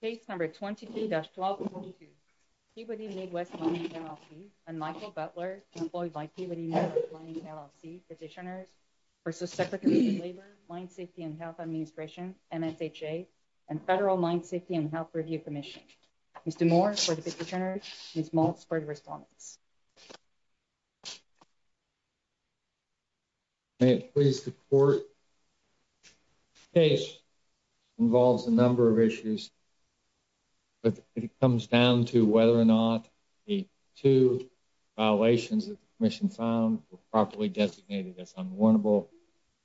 Case number 23-12-22, Peabody Midwest Mining, LLC and Michael Butler employed by Peabody Midwest Mining, LLC petitioners versus Secretary of Labor, Mine Safety and Health Administration, MSHA, and Federal Mine Safety and Health Review Commission. Mr. Moore for the petitioners, Ms. Maltz for the respondents. May it please the court. The case involves a number of issues, but it comes down to whether or not the two violations that the commission found were properly designated as unwarrantable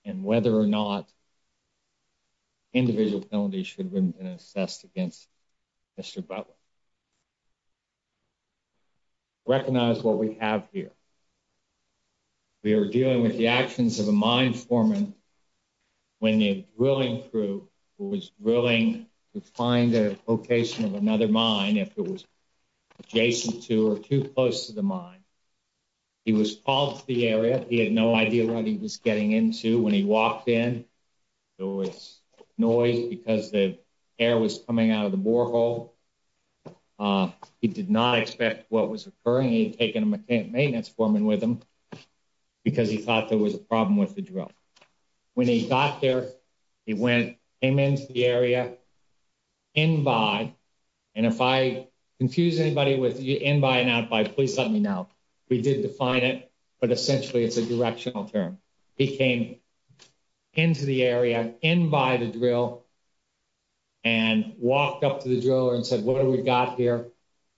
and whether or not individual felonies should have been assessed against Mr. Butler. Recognize what we have here. We are dealing with the actions of a mine foreman when a drilling crew was willing to find a location of another mine if it was adjacent to or too close to the mine. He was called to the area. He had no idea what he was getting into. When he walked in, there was noise because the air was coming out of the borehole. He did not expect what was occurring. He had taken a maintenance foreman with him because he thought there was a problem with the drill. When he got there, he came into the area, in by, and if I confuse anybody with in by and out by, please let me know. We did define it, but essentially it's a directional term. He came into the area, in by the drill, and walked up to the driller and said, what have we got here?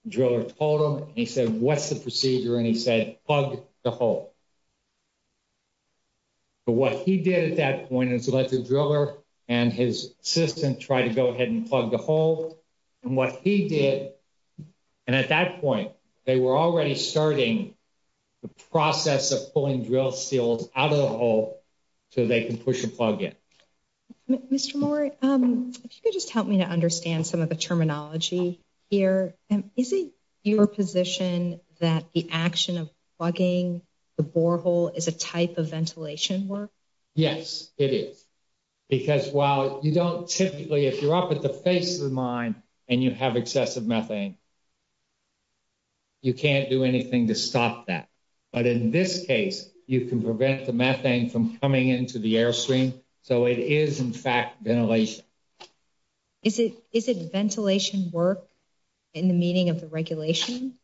Driller told him, and he said, what's the procedure? And he said, plug the hole. But what he did at that point is let the driller and his assistant try to go ahead and plug the hole. And what he did, and at that point, they were already starting the process of pulling drill seals out of the hole so they can push a plug in. Mr. Moore, if you could just help me to understand some of the terminology here. Is it your position that the action of plugging the borehole is a type of ventilation work? Yes, it is. Because while you don't typically, if you're up at the face of the mine and you have excessive methane, you can't do anything to stop that. But in this case, you can prevent the methane from coming into the airstream. So it is in fact ventilation. Is it ventilation work in the meaning of the regulation?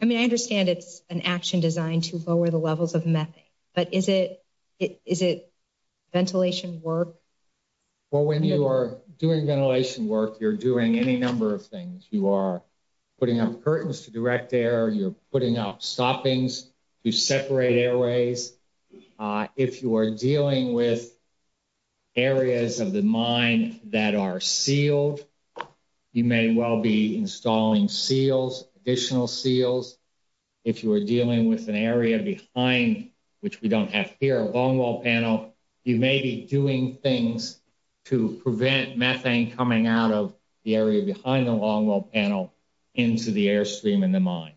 I mean, I understand it's an action designed to lower the levels of methane, but is it ventilation work? Well, when you are doing ventilation work, you're doing any number of things. You are putting up curtains to direct air, you're putting up stoppings to separate airways. If you are dealing with areas of the mine that are sealed, you may well be installing seals, additional seals. If you are dealing with an area behind, which we don't have here, a longwall panel, you may be doing things to prevent methane coming out of the area behind the longwall panel into the airstream in the mine.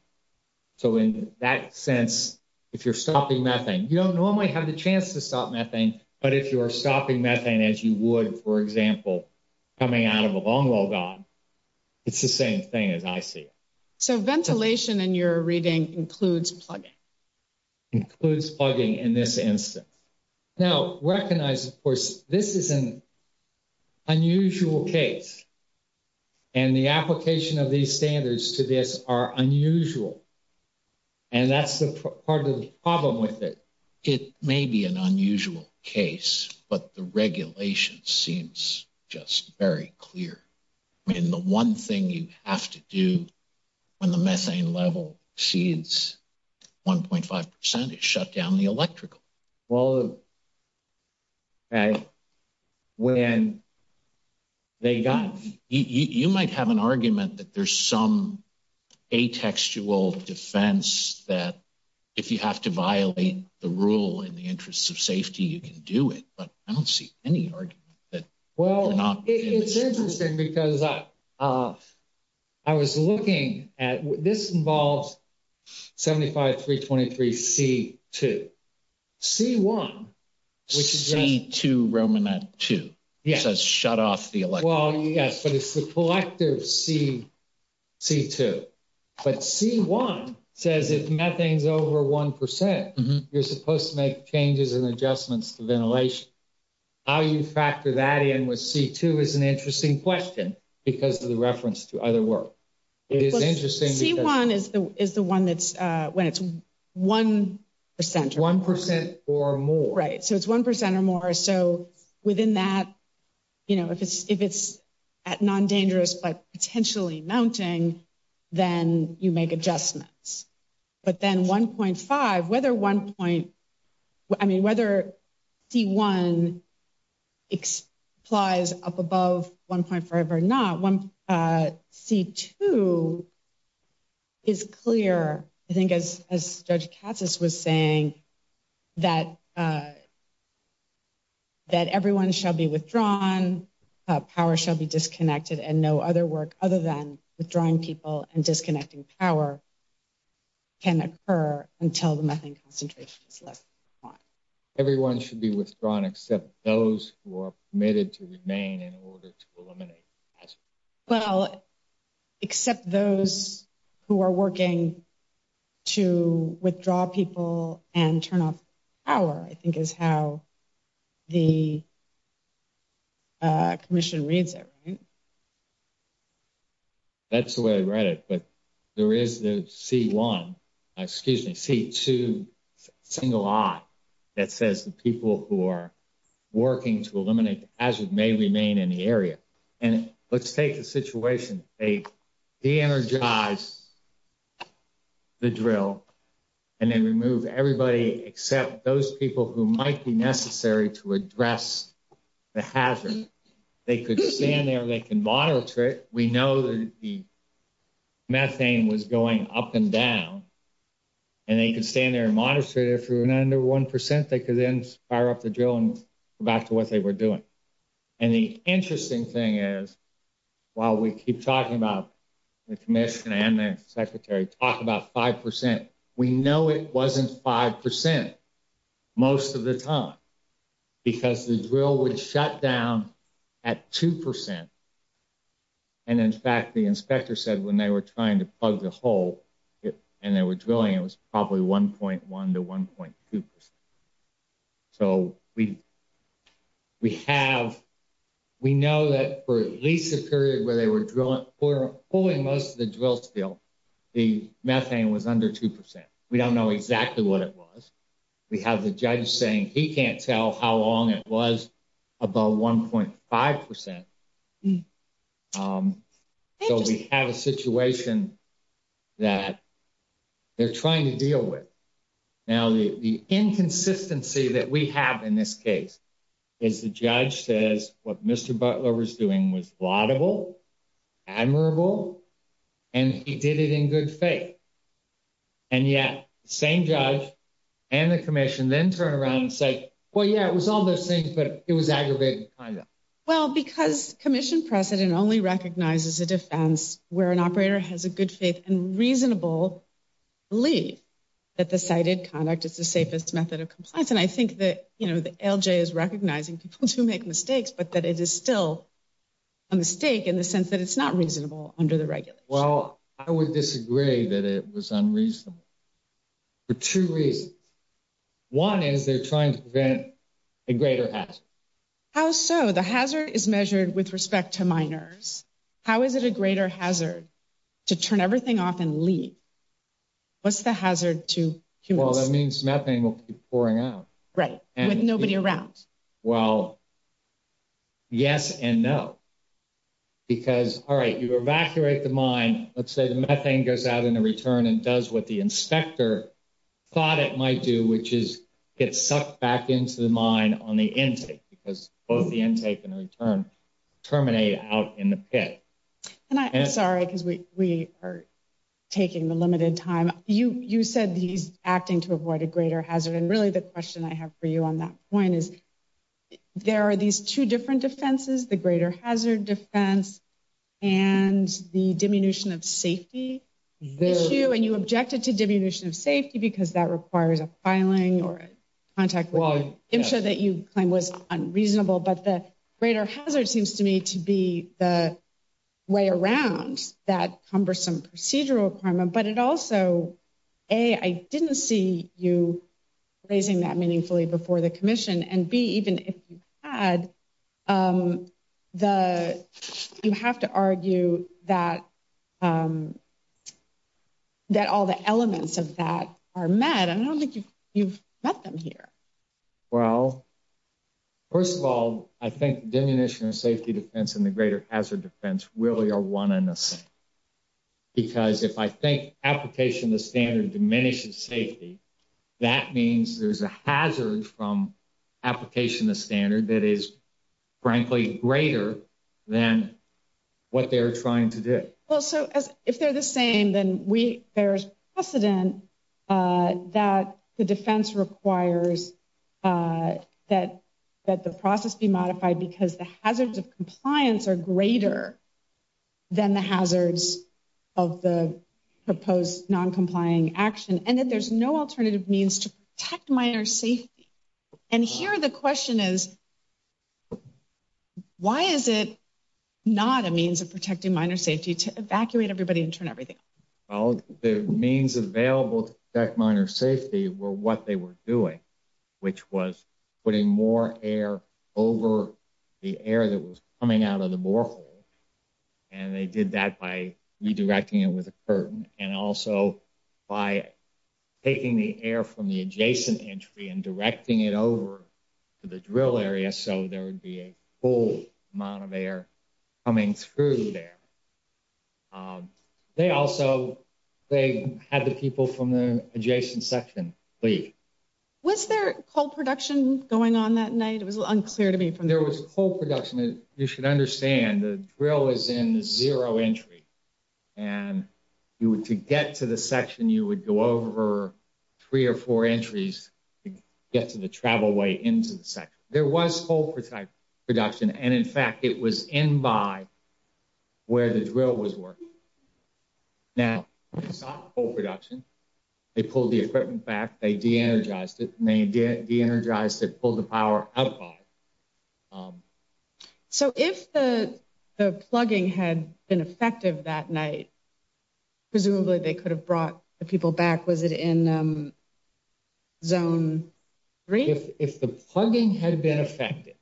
So in that sense, if you're stopping methane, you don't normally have the chance to stop methane, but if you are stopping methane as you would, for example, coming out of a longwall gun, it's the same thing as I see. So ventilation in your reading includes plugging. Includes plugging in this instance. Now recognize, of course, this is an unusual case and the application of these standards to this are unusual. And that's the part of the problem with it. It may be an unusual case, but the regulation seems just very clear. I mean, the one thing you have to do when the methane level exceeds 1.5% is shut down the electrical. Well, okay, when they got- You might have an argument that there's some atextual defense that if you have to violate the rule in the interest of safety, you can do it, but I don't see any argument that- Well, it's interesting because I was looking at, this involves 75.323.C.2. C.1. Which is just- C.2.Romana.2. Yes. It says shut off the electrical. Well, yes, but it's the collective C.2. But C.1 says if methane's over 1%, you're supposed to make changes and adjustments to ventilation. How you factor that in with C.2 is an interesting question because of the reference to other work. It is interesting because- C.1 is the one that's when it's 1% or more. 1% or more. Right. So it's 1% or more. So within that, if it's at non-dangerous, but potentially mounting, then you make adjustments. But then 1.5, whether C.1 applies up above 1.5 or not, C.2 is clear. I think as Judge Katsas was saying that everyone shall be withdrawn, power shall be disconnected, and no other work other than withdrawing people and disconnecting power can occur until the methane concentration is less than 1%. Everyone should be withdrawn except those who are permitted to remain in order to eliminate the hazard. Well, except those who are working to withdraw people and turn off power, I think is how the commission reads it, right? That's the way I read it. But there is the C.1, excuse me, C.2 single I that says the people who are working to eliminate the hazard may remain in the area. And let's take the situation. They de-energize the drill and then remove everybody except those people who might be necessary to address the hazard. They could stand there and they can monitor it. We know that the methane was going up and down and they could stand there and monitor it. If it were not under 1%, they could then fire up the drill and go back to what they were doing. And the interesting thing is, while we keep talking about the commission and the secretary talk about 5%, we know it wasn't 5% most of the time because the drill would shut down at 2%. And in fact, the inspector said when they were trying to plug the hole and they were drilling, it was probably 1.1 to 1.2%. So we have, we know that for at least 1% at least a period where they were pulling most of the drill spill, the methane was under 2%. We don't know exactly what it was. We have the judge saying he can't tell how long it was above 1.5%. So we have a situation that they're trying to deal with. Now, the inconsistency that we have in this case is the judge says what Mr. Butler was doing was laudable, admirable, and he did it in good faith. And yet same judge and the commission then turn around and say, well, yeah, it was all those things, but it was aggravated conduct. Well, because commission precedent only recognizes a defense where an operator has a good faith and reasonable belief that the cited conduct is the safest method of compliance. And I think that, you know, the LJ is recognizing people to make mistakes, but that it is still a mistake in the sense that it's not reasonable under the regulations. Well, I would disagree that it was unreasonable for two reasons. One is they're trying to prevent a greater hazard. How so? The hazard is measured with respect to miners. How is it a greater hazard to turn everything off and leave? What's the hazard to humans? Well, that means methane will keep pouring out. Right, with nobody around. Well, yes and no. Because, all right, you evacuate the mine. Let's say the methane goes out in the return and does what the inspector thought it might do, which is get sucked back into the mine on the intake because both the intake and the return terminate out in the pit. And I'm sorry, because we are taking the limited time. You said he's acting to avoid a greater hazard. And really the question I have for you on that point is there are these two different defenses, the greater hazard defense and the diminution of safety issue. And you objected to diminution of safety because that requires a filing or a contact with an insurer that you claim was unreasonable. But the greater hazard seems to me to be the way around that cumbersome procedural requirement. But it also, A, I didn't see you raising that meaningfully before the commission. And B, even if you had, you have to argue that all the elements of that are met. And I don't think you've met them here. Well, first of all, I think diminution of safety defense and the greater hazard defense really are one and the same. Because if I think application of the standard diminishes safety, that means there's a hazard from application of standard that is frankly greater than what they're trying to do. Well, so if they're the same, then there's precedent that the defense requires that the process be modified because the hazards of compliance are greater than the hazards of the proposed non-complying action. And that there's no alternative means to protect minor safety. And here the question is, why is it not a means of protecting minor safety to evacuate everybody and turn everything off? Well, the means available to protect minor safety were what they were doing, which was putting more air over the air that was coming out of the borehole. And they did that by redirecting it with a curtain and also by taking the air from the adjacent entry and directing it over to the drill area so there would be a full amount of air coming through there. They also, they had the people from the adjacent section leave. Was there coal production going on that night? It was unclear to me. If there was coal production, you should understand the drill is in the zero entry and you would to get to the section, you would go over three or four entries to get to the travel way into the section. There was coal production. And in fact, it was in by where the drill was working. Now, it's not coal production. They pulled the equipment back. They de-energized it and they de-energized it, pulled the power out of it. So if the plugging had been effective that night, presumably they could have brought the people back. Was it in zone three? If the plugging had been effective,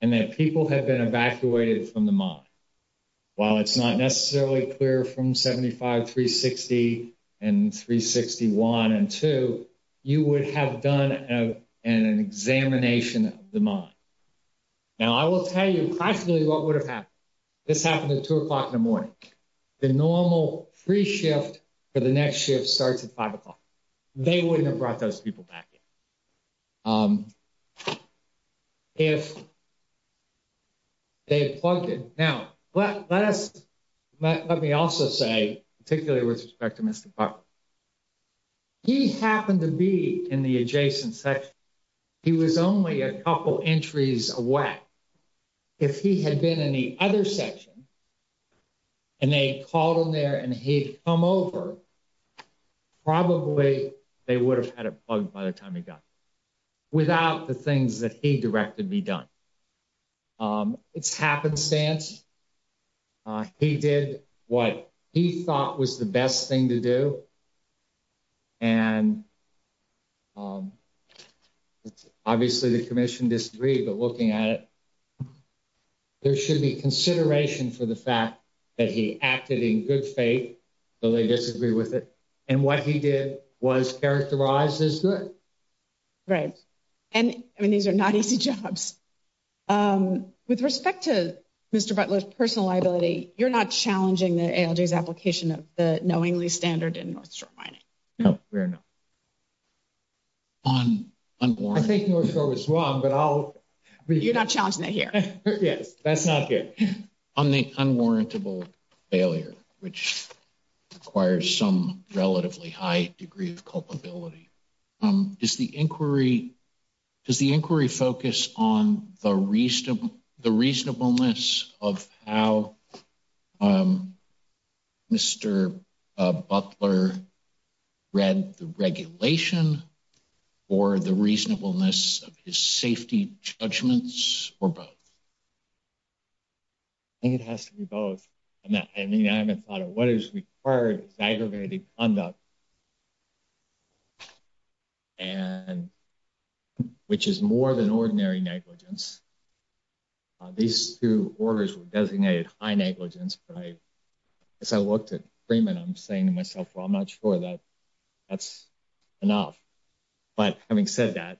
and that people had been evacuated from the mine, while it's not necessarily clear from 75, 360 and 361 and two you would have done an examination of the mine. Now I will tell you practically what would have happened. This happened at two o'clock in the morning. The normal pre-shift for the next shift starts at five o'clock. They wouldn't have brought those people back. If they had plugged it. Now, let me also say, particularly with respect to Mr. Parker, he happened to be in the adjacent section. He was only a couple entries away. If he had been in the other section and they called him there and he'd come over, probably they would have had it plugged by the time he got without the things that he directed be done. It's happenstance. He did what he thought was the best thing to do. And obviously the commission disagreed, but looking at it, there should be consideration for the fact that he acted in good faith, though they disagree with it. And what he did was characterized as good. Right. And I mean, these are not easy jobs. With respect to Mr. Butler's personal liability, you're not challenging the ALJ's application of the knowingly standard in North Shore Mining. No, we are not. On unwarranted- I think North Shore was wrong, but I'll- You're not challenging it here. Yes, that's not good. On the unwarrantable failure, which requires some relatively high degree of culpability, does the inquiry focus on the reasonableness of how Mr. Butler read the regulation or the reasonableness of his safety judgments or both? I think it has to be both. I mean, I haven't thought of what is required is aggravated conduct, which is more than ordinary negligence. These two orders were designated high negligence, but as I looked at Freeman, I'm saying to myself, well, I'm not sure that that's enough. But having said that,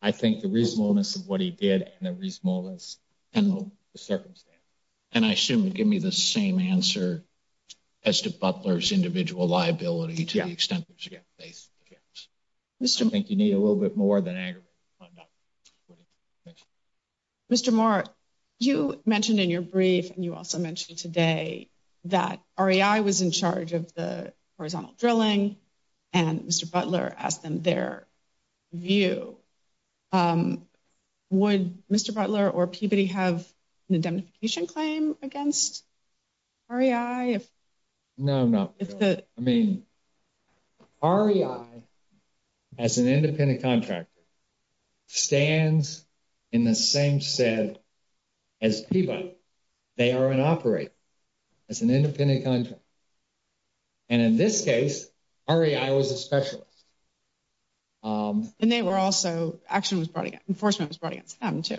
I think the reasonableness of what he did and the reasonableness of the circumstance. And I assume you're giving me the same answer as to Butler's individual liability to the extent that there's a good faith difference. I think you need a little bit more than aggravated conduct. Thank you. Mr. Moore, you mentioned in your brief and you also mentioned today that REI was in charge of the horizontal drilling and Mr. Butler asked them their view. Would Mr. Butler or Peabody have an indemnification claim against REI? No, no. I mean, REI as an independent contractor stands in the same set as Peabody. They are an operator as an independent contractor. And in this case, REI was a specialist. And they were also, action was brought against, enforcement was brought against them too.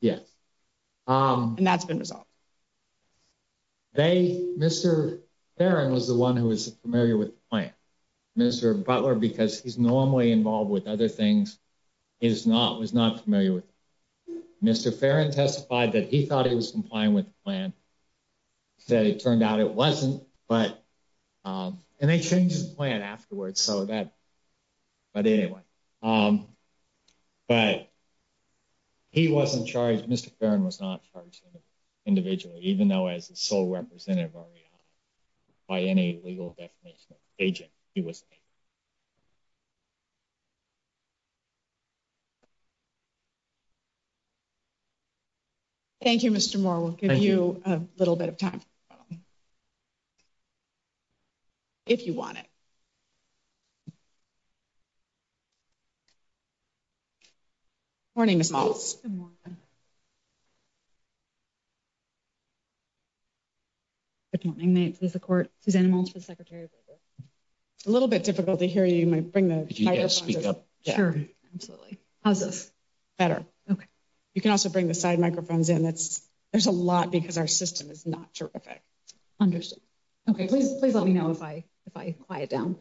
Yes. And that's been resolved. They, Mr. Farron was the one who was familiar with the plan, Mr. Butler, because he's normally involved with other things. He's not, was not familiar with it. Mr. Farron testified that he thought he was complying with the plan. Said it turned out it wasn't, but, and they changed his plan afterwards. So that, but anyway, but he wasn't charged. Mr. Farron was not charged individually, even though as a sole representative or by any legal definition of agent, he was. Thank you. Thank you, Mr. Moore. We'll give you a little bit of time, if you want it. Morning, Ms. Maltz. Good morning. Good morning, may it please the court. Susanna Maltz for the secretary of labor. A little bit difficult to hear you. You might bring the microphone. Could you guys speak up? Sure, absolutely. How's this? Better. Okay. You can also bring the side microphones in. There's a lot because our system is not terrific. Understood. Okay, please let me know if I quiet down.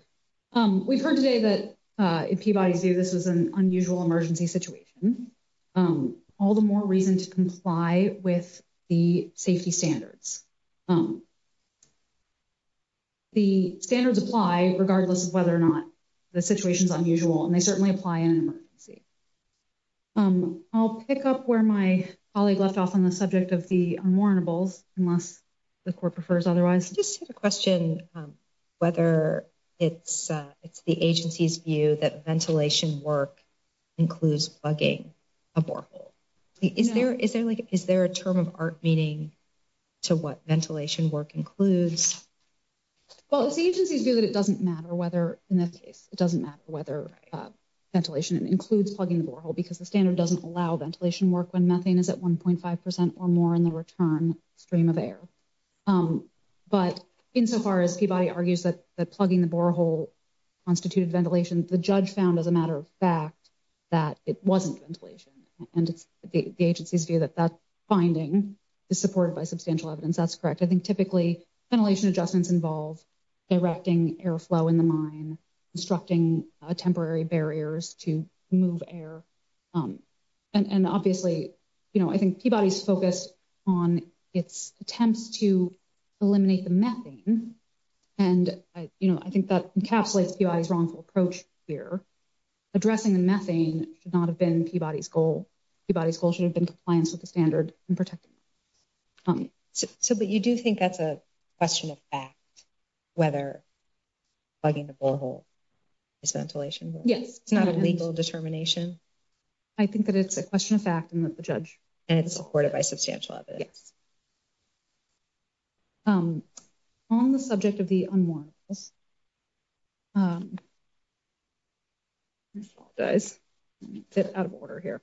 We've heard today that in Peabody Zoo, this was an unusual emergency situation. All the more reason to comply with the safety standards. The standards apply regardless of whether or not the situation's unusual, and they certainly apply in an emergency. I'll pick up where my colleague left off on the subject of the unwarrantables, unless the court prefers otherwise. Just a question, whether it's the agency's view that ventilation work includes bugging a borehole. Is there a term of art meaning to work what ventilation work includes? Well, it's the agency's view that it doesn't matter whether in that case, it doesn't matter whether ventilation includes plugging the borehole, because the standard doesn't allow ventilation work when methane is at 1.5% or more in the return stream of air. But insofar as Peabody argues that plugging the borehole constituted ventilation, the judge found as a matter of fact, that it wasn't ventilation. And it's the agency's view that that finding is supported by substantial evidence. That's correct. I think typically ventilation adjustments involve directing airflow in the mine, constructing temporary barriers to move air. And obviously, I think Peabody's focused on its attempts to eliminate the methane. And I think that encapsulates Peabody's wrongful approach here. Addressing the methane should not have been Peabody's goal. Peabody's goal should have been compliance with the standard and protecting it. So, but you do think that's a question of fact, whether plugging the borehole is ventilation work? Yes. It's not a legal determination? I think that it's a question of fact and that the judge- And it's supported by substantial evidence? Yes. On the subject of the un-mortals, I apologize, I'm a bit out of order here.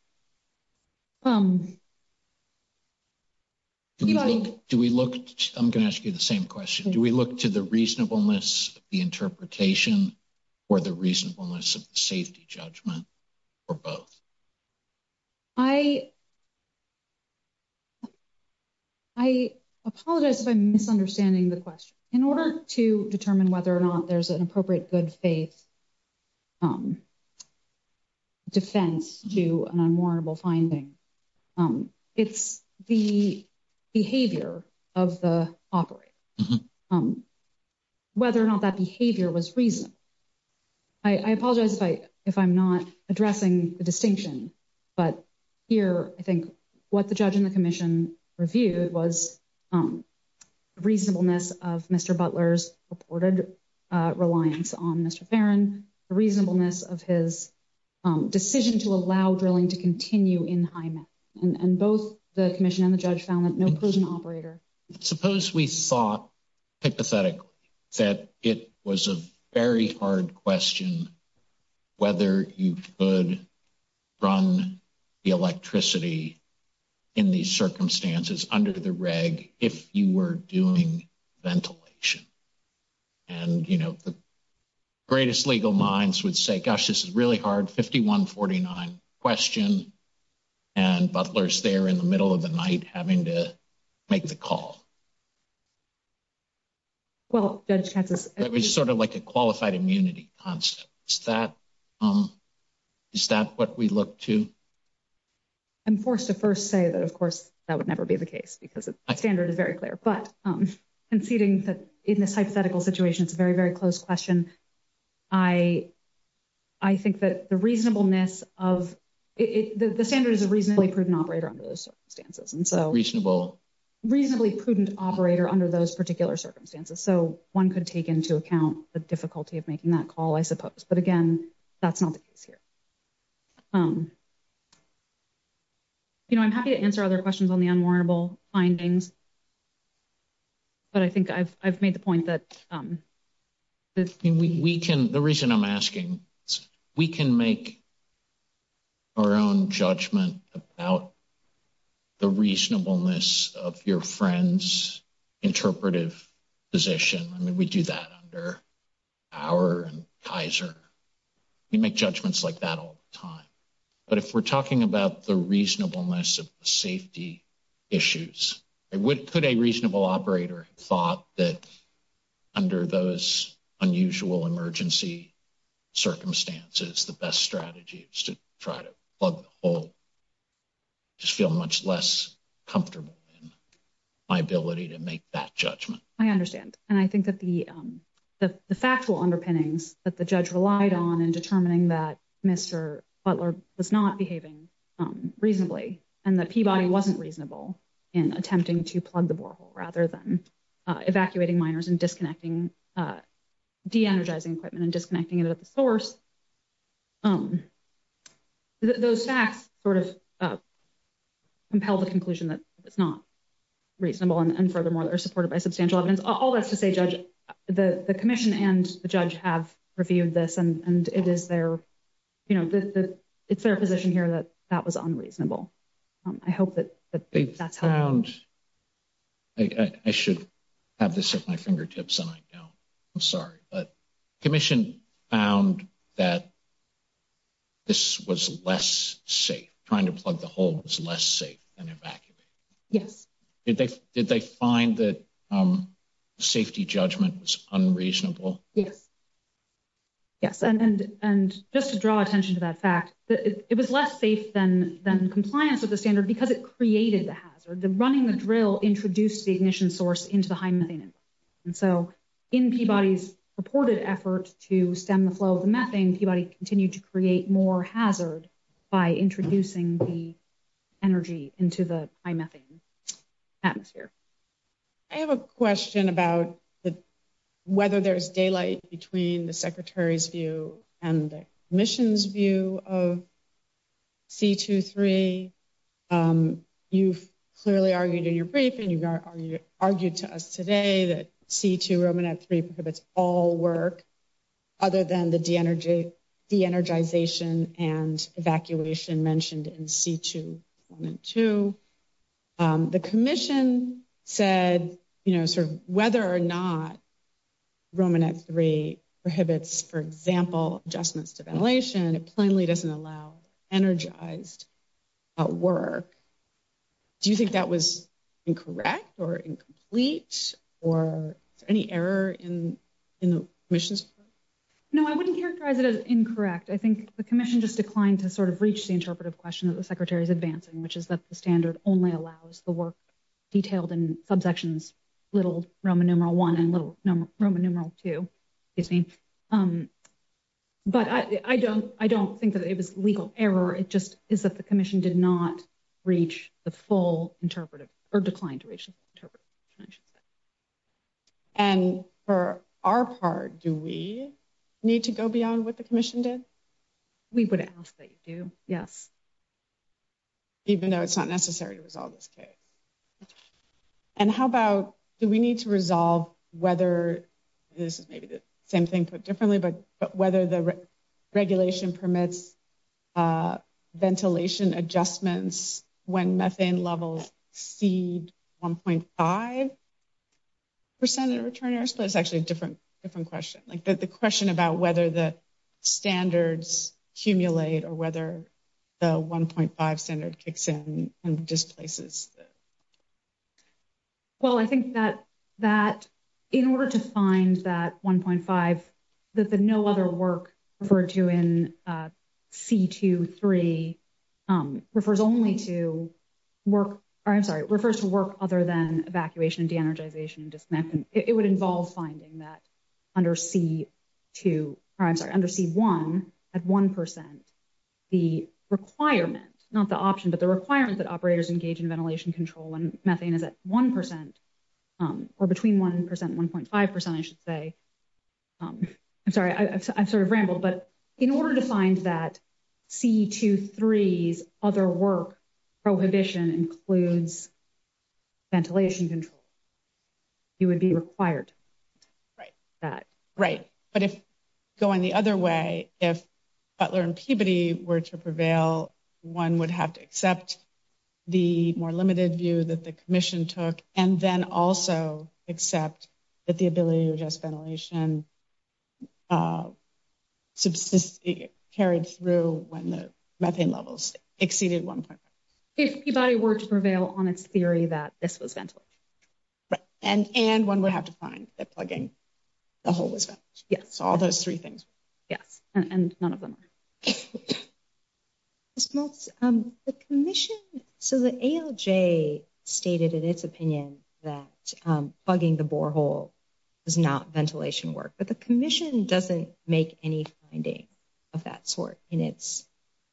Peabody? Do we look, I'm going to ask you the same question. Do we look to the reasonableness of the interpretation or the reasonableness of the safety judgment or both? I, I apologize if I'm misunderstanding the question. In order to determine whether or not there's an appropriate good faith defense to an unwarrantable finding, it's the behavior of the operator, whether or not that behavior was reasonable. I apologize if I'm not addressing the distinction, but here, I think what the judge and the commission reviewed was reasonableness of Mr. Butler's reported reliance on Mr. Farron, the reasonableness of his decision to allow drilling to continue in Hyman. And both the commission and the judge found that no prison operator- Suppose we thought, hypothetically, that it was a very hard question whether you could run the electricity in these circumstances under the reg if you were doing ventilation. And, you know, the greatest legal minds would say, gosh, this is really hard, 5149 question, and Butler's there in the middle of the night having to make the call. Well, Judge Katz- It was sort of like a qualified immunity concept. Is that what we look to? I'm forced to first say that, of course, that would never be the case because the standard is very clear. But conceding that in this hypothetical situation, it's a very, very close question. I think that the reasonableness of it, the standard is a reasonably prudent operator under those circumstances. And so- Reasonable. Reasonably prudent operator under those particular circumstances. So one could take into account the difficulty of making that call, I suppose. But again, that's not the case here. You know, I'm happy to answer other questions on the unwarrantable findings, but I think I've made the point that- The reason I'm asking, we can make our own judgment about the reasonableness of your friend's interpretive position. I mean, we do that under Bauer and Kaiser. We make judgments like that all the time. But if we're talking about the reasonableness of the safety issues, could a reasonable operator have thought that under those unusual emergency circumstances, the best strategy is to try to plug the hole, just feel much less comfortable in my ability to make that judgment? I understand. And I think that the factual underpinnings that the judge relied on in determining that Mr. Butler was not behaving reasonably and that Peabody wasn't reasonable in attempting to plug the borehole rather than evacuating miners and de-energizing equipment and disconnecting it at the source. Those facts sort of compel the conclusion that it's not reasonable. And furthermore, they're supported by substantial evidence. All that's to say, Judge, the commission and the judge have reviewed this and it's their position here that that was unreasonable. I hope that that's how- They found, I should have this at my fingertips and I don't, I'm sorry. But commission found that this was less safe, trying to plug the hole was less safe than evacuating. Yes. Did they find that safety judgment was unreasonable? Yes. Yes. And just to draw attention to that fact, it was less safe than compliance with the standard because it created the hazard. The running the drill introduced the ignition source into the high methane. And so in Peabody's purported effort to stem the flow of the methane, Peabody continued to create more hazard by introducing the energy into the high methane atmosphere. I have a question about whether there's daylight between the secretary's view and the commission's view of C2-3. You've clearly argued in your brief and you've argued to us today that C2-Romanet-3 prohibits all work other than the de-energization and evacuation mentioned in C2-1 and 2. The commission said, you know, sort of whether or not Romanet-3 prohibits, for example, adjustments to ventilation, and it plainly doesn't allow energized work. Do you think that was incorrect or incomplete or is there any error in the commission's report? No, I wouldn't characterize it as incorrect. I think the commission just declined to sort of reach the interpretive question that the secretary's advancing, which is that the standard only allows the work detailed in subsections little Roman numeral one and little Roman numeral two. Excuse me. But I don't think that it was legal error. It just is that the commission did not reach the full interpretive or declined to reach the interpretive question. And for our part, do we need to go beyond what the commission did? We would ask that you do, yes. Even though it's not necessary to resolve this case. And how about, do we need to resolve whether this is maybe the same thing but differently, but whether the regulation permits ventilation adjustments when methane levels exceed 1.5% in return air supply is actually a different question. Like the question about whether the standards accumulate or whether the 1.5 standard kicks in and displaces. Well, I think that in order to find that 1.5, that the no other work referred to in C2-3 refers only to work, or I'm sorry, refers to work other than evacuation, de-energization and disconnecting. It would involve finding that under C2, or I'm sorry, under C1 at 1%, the requirement, not the option, but the requirement that operators engage in ventilation adjustments for ventilation control when methane is at 1%, or between 1% and 1.5%, I should say. I'm sorry, I've sort of rambled, but in order to find that C2-3's other work prohibition includes ventilation control, it would be required. Right, right. But if going the other way, if Butler and Peabody were to prevail, one would have to accept the more limited view that the commission took, and then also accept that the ability to adjust ventilation carried through when the methane levels exceeded 1.5. If Peabody were to prevail on its theory that this was ventilation. Right, and one would have to find that plugging the hole was ventilation. Yes. So all those three things. Yes, and none of them are. Ms. Maltz, the commission, so the ALJ stated in its opinion that plugging the borehole does not ventilation work, but the commission doesn't make any finding of that sort in its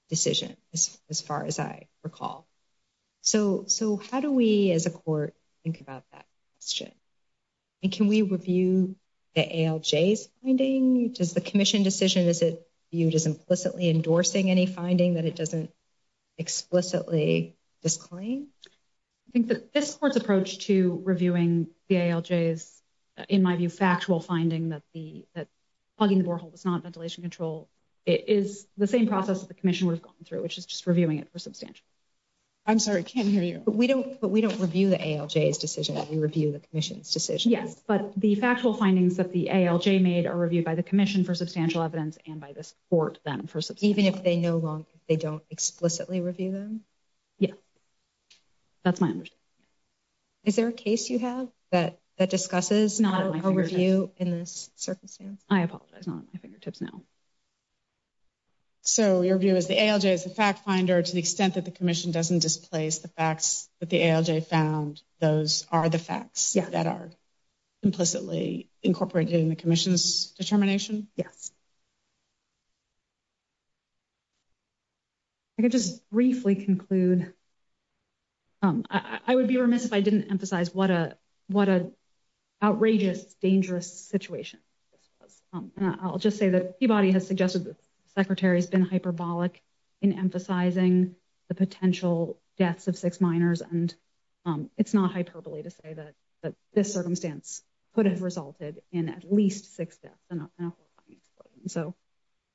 decision, as far as I recall. So how do we as a court think about that question? And can we review the ALJ's finding? Does the commission decision, is it viewed as implicitly endorsing any finding that it doesn't explicitly disclaim? I think that this court's approach to reviewing the ALJ's, in my view, factual finding that plugging the borehole was not ventilation control, it is the same process that the commission would have gone through, which is just reviewing it for substantial. I'm sorry, I can't hear you. But we don't review the ALJ's decision, we review the commission's decision. Yes, but the factual findings that the ALJ made are reviewed by the commission for substantial evidence and by this court then for substantial evidence. Even if they no longer, they don't explicitly review them? Yeah. That's my understanding. Is there a case you have that discusses a review in this circumstance? I apologize, not at my fingertips now. So your view is the ALJ is the fact finder to the extent that the commission doesn't displace the facts that the ALJ found, those are the facts that are implicitly incorporated in the commission's determination? Yes. I can just briefly conclude, I would be remiss if I didn't emphasize what a outrageous, dangerous situation this was. I'll just say that Peabody has suggested that the secretary has been hyperbolic in emphasizing the potential deaths of six minors and it's not hyperbole to say that this circumstance could have resulted in at least six deaths in a horrifying explosion. So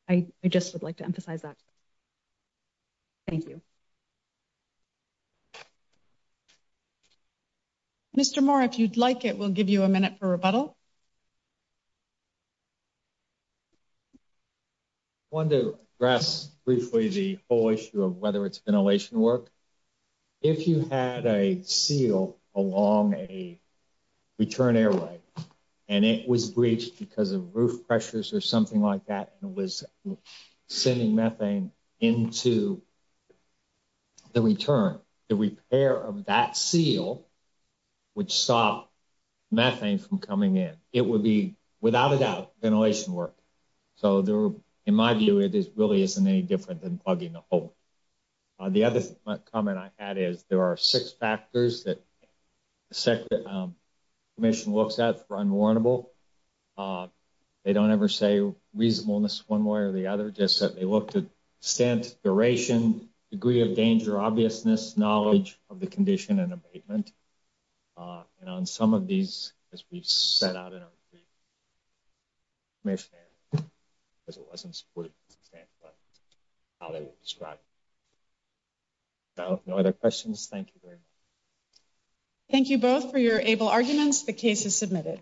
I just would like to emphasize that. Thank you. Mr. Moore, if you'd like it, we'll give you a minute for rebuttal. Want to address briefly the whole issue of whether it's ventilation work. If you had a seal along a return airway and it was breached because of roof pressures or something like that and it was sending methane into the return, the repair of that seal would stop methane from coming in. It would be, without a doubt, ventilation work. So in my view, it really isn't any different than plugging a hole. The other comment I had is there are six factors that the commission looks at for unwarrantable. They don't ever say reasonableness one way or the other, just that they looked at extent, duration, degree of danger, obviousness, knowledge of the condition and abatement. And on some of these, as we've set out in our brief, may have said, as it wasn't supported to this extent, but how they were described. So no other questions, thank you very much. Thank you both for your able arguments. The case is submitted.